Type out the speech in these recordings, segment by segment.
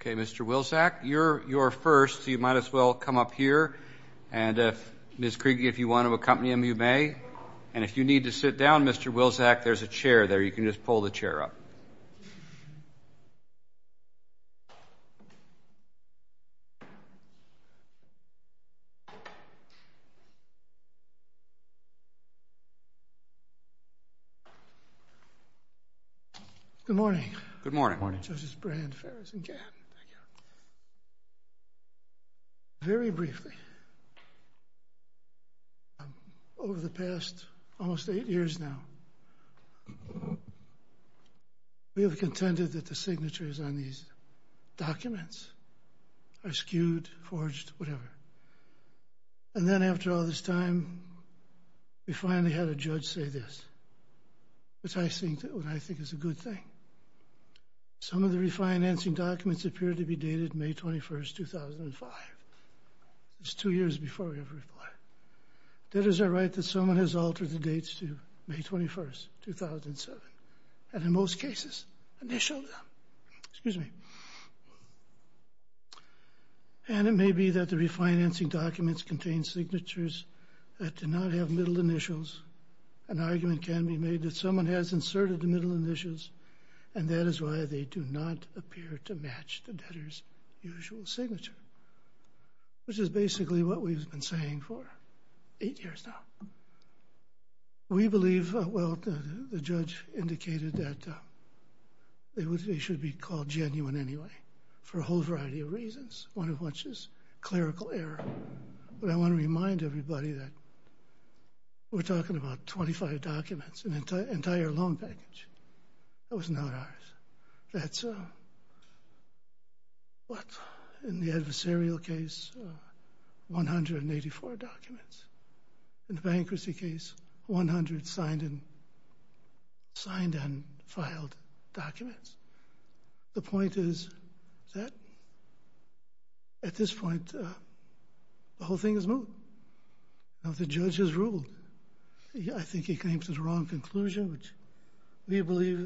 Okay, Mr. Wilczak, you're first, so you might as well come up here. And, Ms. Kriege, if you want to accompany him, you may. And if you need to sit down, Mr. Wilczak, there's a chair there. You can just pull the chair up. Good morning. Good morning. Good morning. Very briefly, over the past almost eight years now, we have contended that the signatures on these documents are skewed, forged, whatever. And then after all this time, we finally had a judge say this, which I think is a good thing. Some of the refinancing documents appear to be dated May 21, 2005. It's two years before we have a reply. Debtors are right that someone has altered the dates to May 21, 2007 and in most cases, initialed them. Excuse me. And it may be that the refinancing documents contain signatures that do not have middle initials. An argument can be made that someone has inserted the middle initials and that is why they do not appear to match the debtor's usual signature, which is basically what we've been saying for eight years now. We believe, well, the judge indicated that they should be called genuine anyway for a whole variety of reasons. One of which is clerical error. But I want to remind everybody that we're talking about 25 documents, an entire loan package. That was not ours. That's what, in the adversarial case, 184 documents. In the bankruptcy case, 100 signed and filed documents. The point is that at this point, the whole thing is moot. The judge has ruled. I think he came to the wrong conclusion, which we believe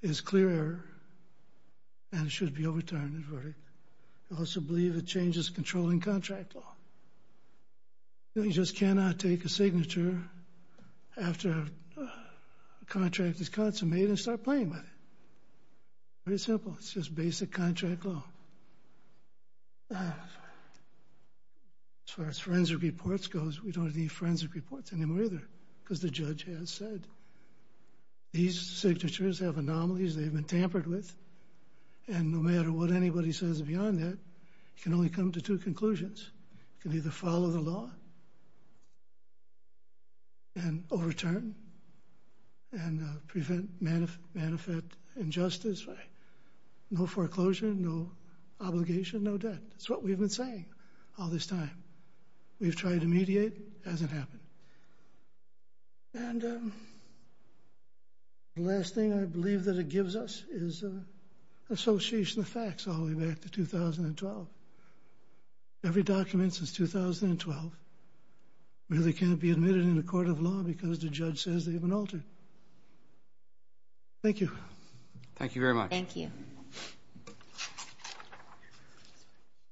is clear and should be overturned. We also believe it changes controlling contract law. You just cannot take a signature after a contract is consummated and start playing with it. Very simple. It's just basic contract law. As far as forensic reports goes, we don't need forensic reports anymore either because the judge has said. These signatures have anomalies. They've been tampered with. And no matter what anybody says beyond that, you can only come to two conclusions. You can either follow the law and overturn and prevent, benefit injustice, no foreclosure, no obligation, no debt. That's what we've been saying all this time. We've tried to mediate. It hasn't happened. And the last thing I believe that it gives us is association of facts all the way back to 2012. Every document since 2012 really can't be admitted in a court of law because the judge says they've been altered. Thank you. Thank you very much. Thank you.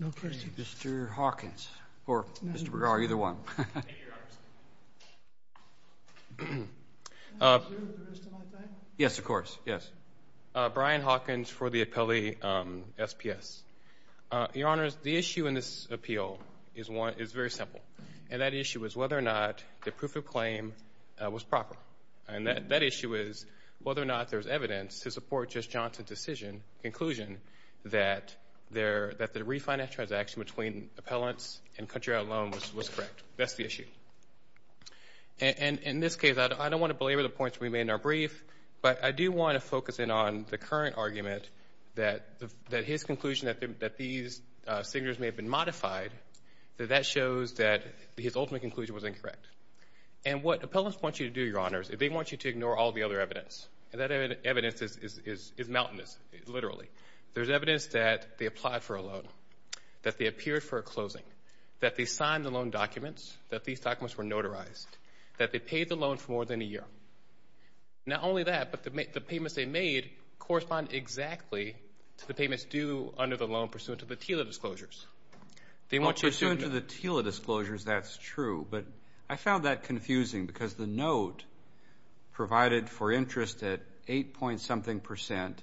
No questions. Mr. Hawkins, or Mr. Bergar, either one. Thank you, Your Honor. Yes, of course. Yes. Brian Hawkins for the appellee SPS. Your Honor, the issue in this appeal is very simple, and that issue is whether or not the proof of claim was proper. And that issue is whether or not there's evidence to support Judge Johnson's conclusion that the refinance transaction between appellants and country out loans was correct. That's the issue. And in this case, I don't want to belabor the points we made in our brief, but I do want to focus in on the current argument that his conclusion that these signatures may have been modified, that that shows that his ultimate conclusion was incorrect. And what appellants want you to do, Your Honors, they want you to ignore all the other evidence. And that evidence is mountainous, literally. There's evidence that they applied for a loan, that they appeared for a closing, that they signed the loan documents, that these documents were notarized, that they paid the loan for more than a year. Not only that, but the payments they made correspond exactly to the payments due under the loan pursuant to the TILA disclosures. Pursuant to the TILA disclosures, that's true. But I found that confusing because the note provided for interest at 8-point something percent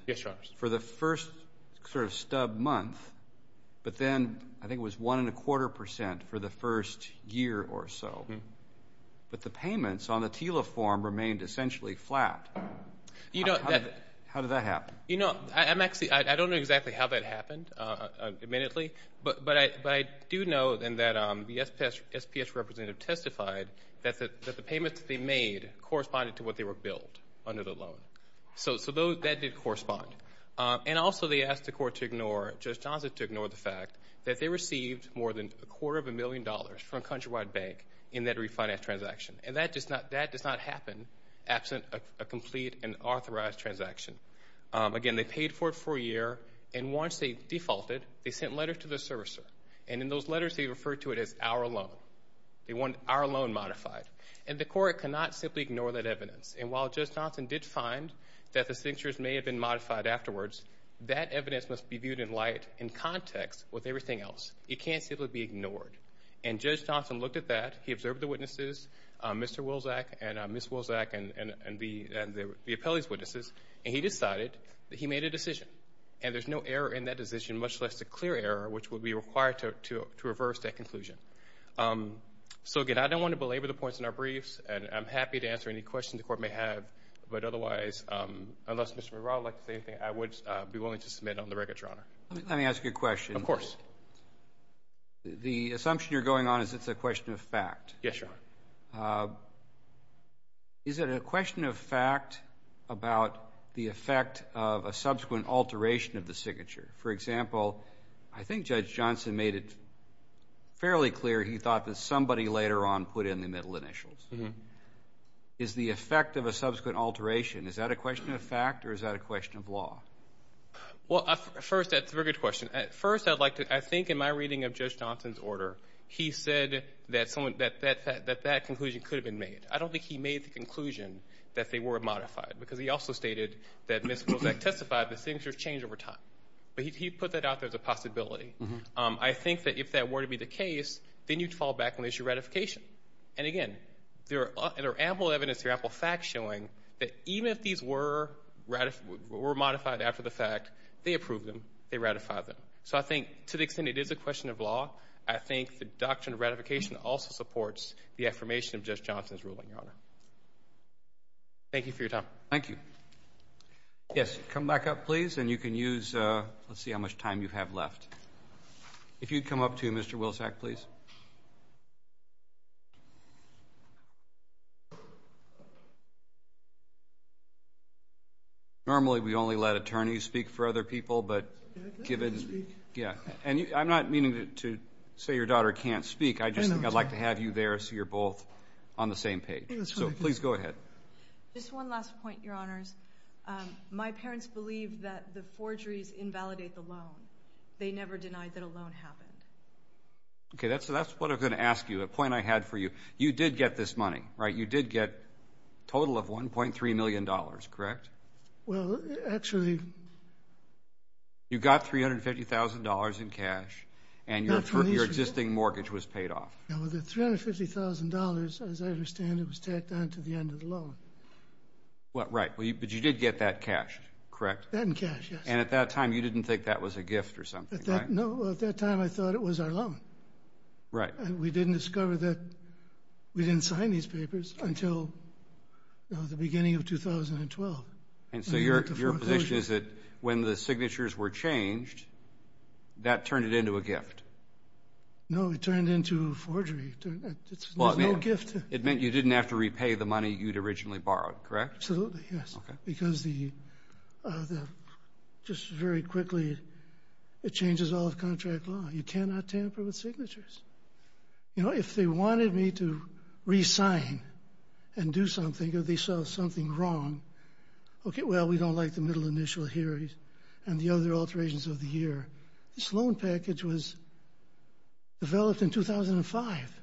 for the first sort of stub month, but then I think it was one and a quarter percent for the first year or so. But the payments on the TILA form remained essentially flat. How did that happen? You know, I don't know exactly how that happened, admittedly, but I do know that the SPS representative testified that the payments they made corresponded to what they were billed under the loan. So that did correspond. And also they asked the court to ignore, Judge Johnson, to ignore the fact that they received more than a quarter of a million dollars from Countrywide Bank in that refinance transaction. And that does not happen absent of a complete and authorized transaction. Again, they paid for it for a year, and once they defaulted, they sent letters to the servicer. And in those letters they referred to it as our loan. They wanted our loan modified. And the court cannot simply ignore that evidence. And while Judge Johnson did find that the signatures may have been modified afterwards, that evidence must be viewed in light and context with everything else. It can't simply be ignored. And Judge Johnson looked at that. He observed the witnesses, Mr. Wilsak and Ms. Wilsak and the appellee's witnesses, and he decided that he made a decision. And there's no error in that decision, much less a clear error, which would be required to reverse that conclusion. So, again, I don't want to belabor the points in our briefs, and I'm happy to answer any questions the Court may have. But otherwise, unless Mr. McGraw would like to say anything, I would be willing to submit on the record, Your Honor. Let me ask you a question. Of course. The assumption you're going on is it's a question of fact. Yes, Your Honor. Is it a question of fact about the effect of a subsequent alteration of the signature? For example, I think Judge Johnson made it fairly clear he thought that somebody later on put in the middle initials. Is the effect of a subsequent alteration, is that a question of fact or is that a question of law? Well, first, that's a very good question. First, I'd like to – I think in my reading of Judge Johnson's order, he said that someone – that that conclusion could have been made. I don't think he made the conclusion that they were modified, because he also stated that Ms. Kozak testified the signatures change over time. But he put that out there as a possibility. I think that if that were to be the case, then you'd fall back on the issue of ratification. And, again, there are ample evidence, there are ample facts showing that even if these were modified after the fact, they approved them, they ratified them. So I think to the extent it is a question of law, I think the doctrine of ratification also supports the affirmation of Judge Johnson's ruling, Your Honor. Thank you for your time. Thank you. Yes, come back up, please, and you can use – let's see how much time you have left. If you'd come up to Mr. Wilsack, please. Normally we only let attorneys speak for other people, but given – and I'm not meaning to say your daughter can't speak. I just think I'd like to have you there so you're both on the same page. So please go ahead. Just one last point, Your Honors. My parents believed that the forgeries invalidate the loan. They never denied that a loan happened. Okay, that's what I was going to ask you, a point I had for you. You did get this money, right? You did get a total of $1.3 million, correct? Well, actually – You got $350,000 in cash, and your existing mortgage was paid off. The $350,000, as I understand it, was tacked on to the end of the loan. Right, but you did get that cashed, correct? That in cash, yes. And at that time you didn't think that was a gift or something, right? No, at that time I thought it was our loan. Right. We didn't discover that – we didn't sign these papers until the beginning of 2012. And so your position is that when the signatures were changed, that turned it into a gift? No, it turned into forgery. It meant you didn't have to repay the money you'd originally borrowed, correct? Absolutely, yes. Because just very quickly, it changes all of contract law. You cannot tamper with signatures. If they wanted me to re-sign and do something or they saw something wrong, okay, well, we don't like the middle initial here and the other alterations of the year. This loan package was developed in 2005.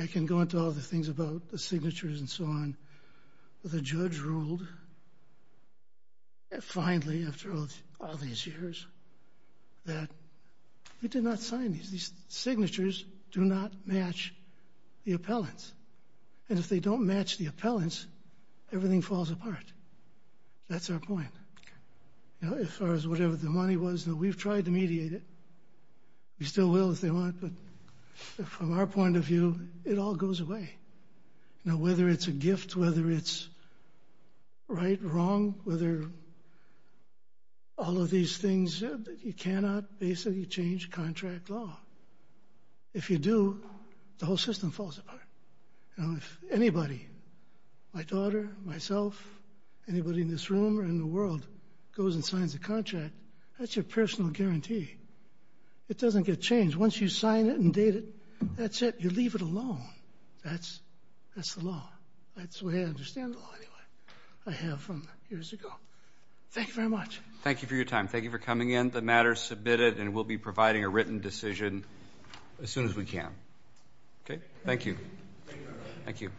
I can go into all the things about the signatures and so on. The judge ruled finally, after all these years, that we did not sign these. These signatures do not match the appellants. And if they don't match the appellants, everything falls apart. That's our point. As far as whatever the money was, we've tried to mediate it. We still will if they want, but from our point of view, it all goes away. Whether it's a gift, whether it's right or wrong, whether all of these things, you cannot basically change contract law. If you do, the whole system falls apart. If anybody, my daughter, myself, anybody in this room or in the world, goes and signs a contract, that's your personal guarantee. It doesn't get changed. Once you sign it and date it, that's it. You leave it alone. That's the law. That's the way I understand the law anyway. I have from years ago. Thank you very much. Thank you for your time. Thank you for coming in. The matter is submitted, and we'll be providing a written decision as soon as we can. Okay. Thank you. Thank you.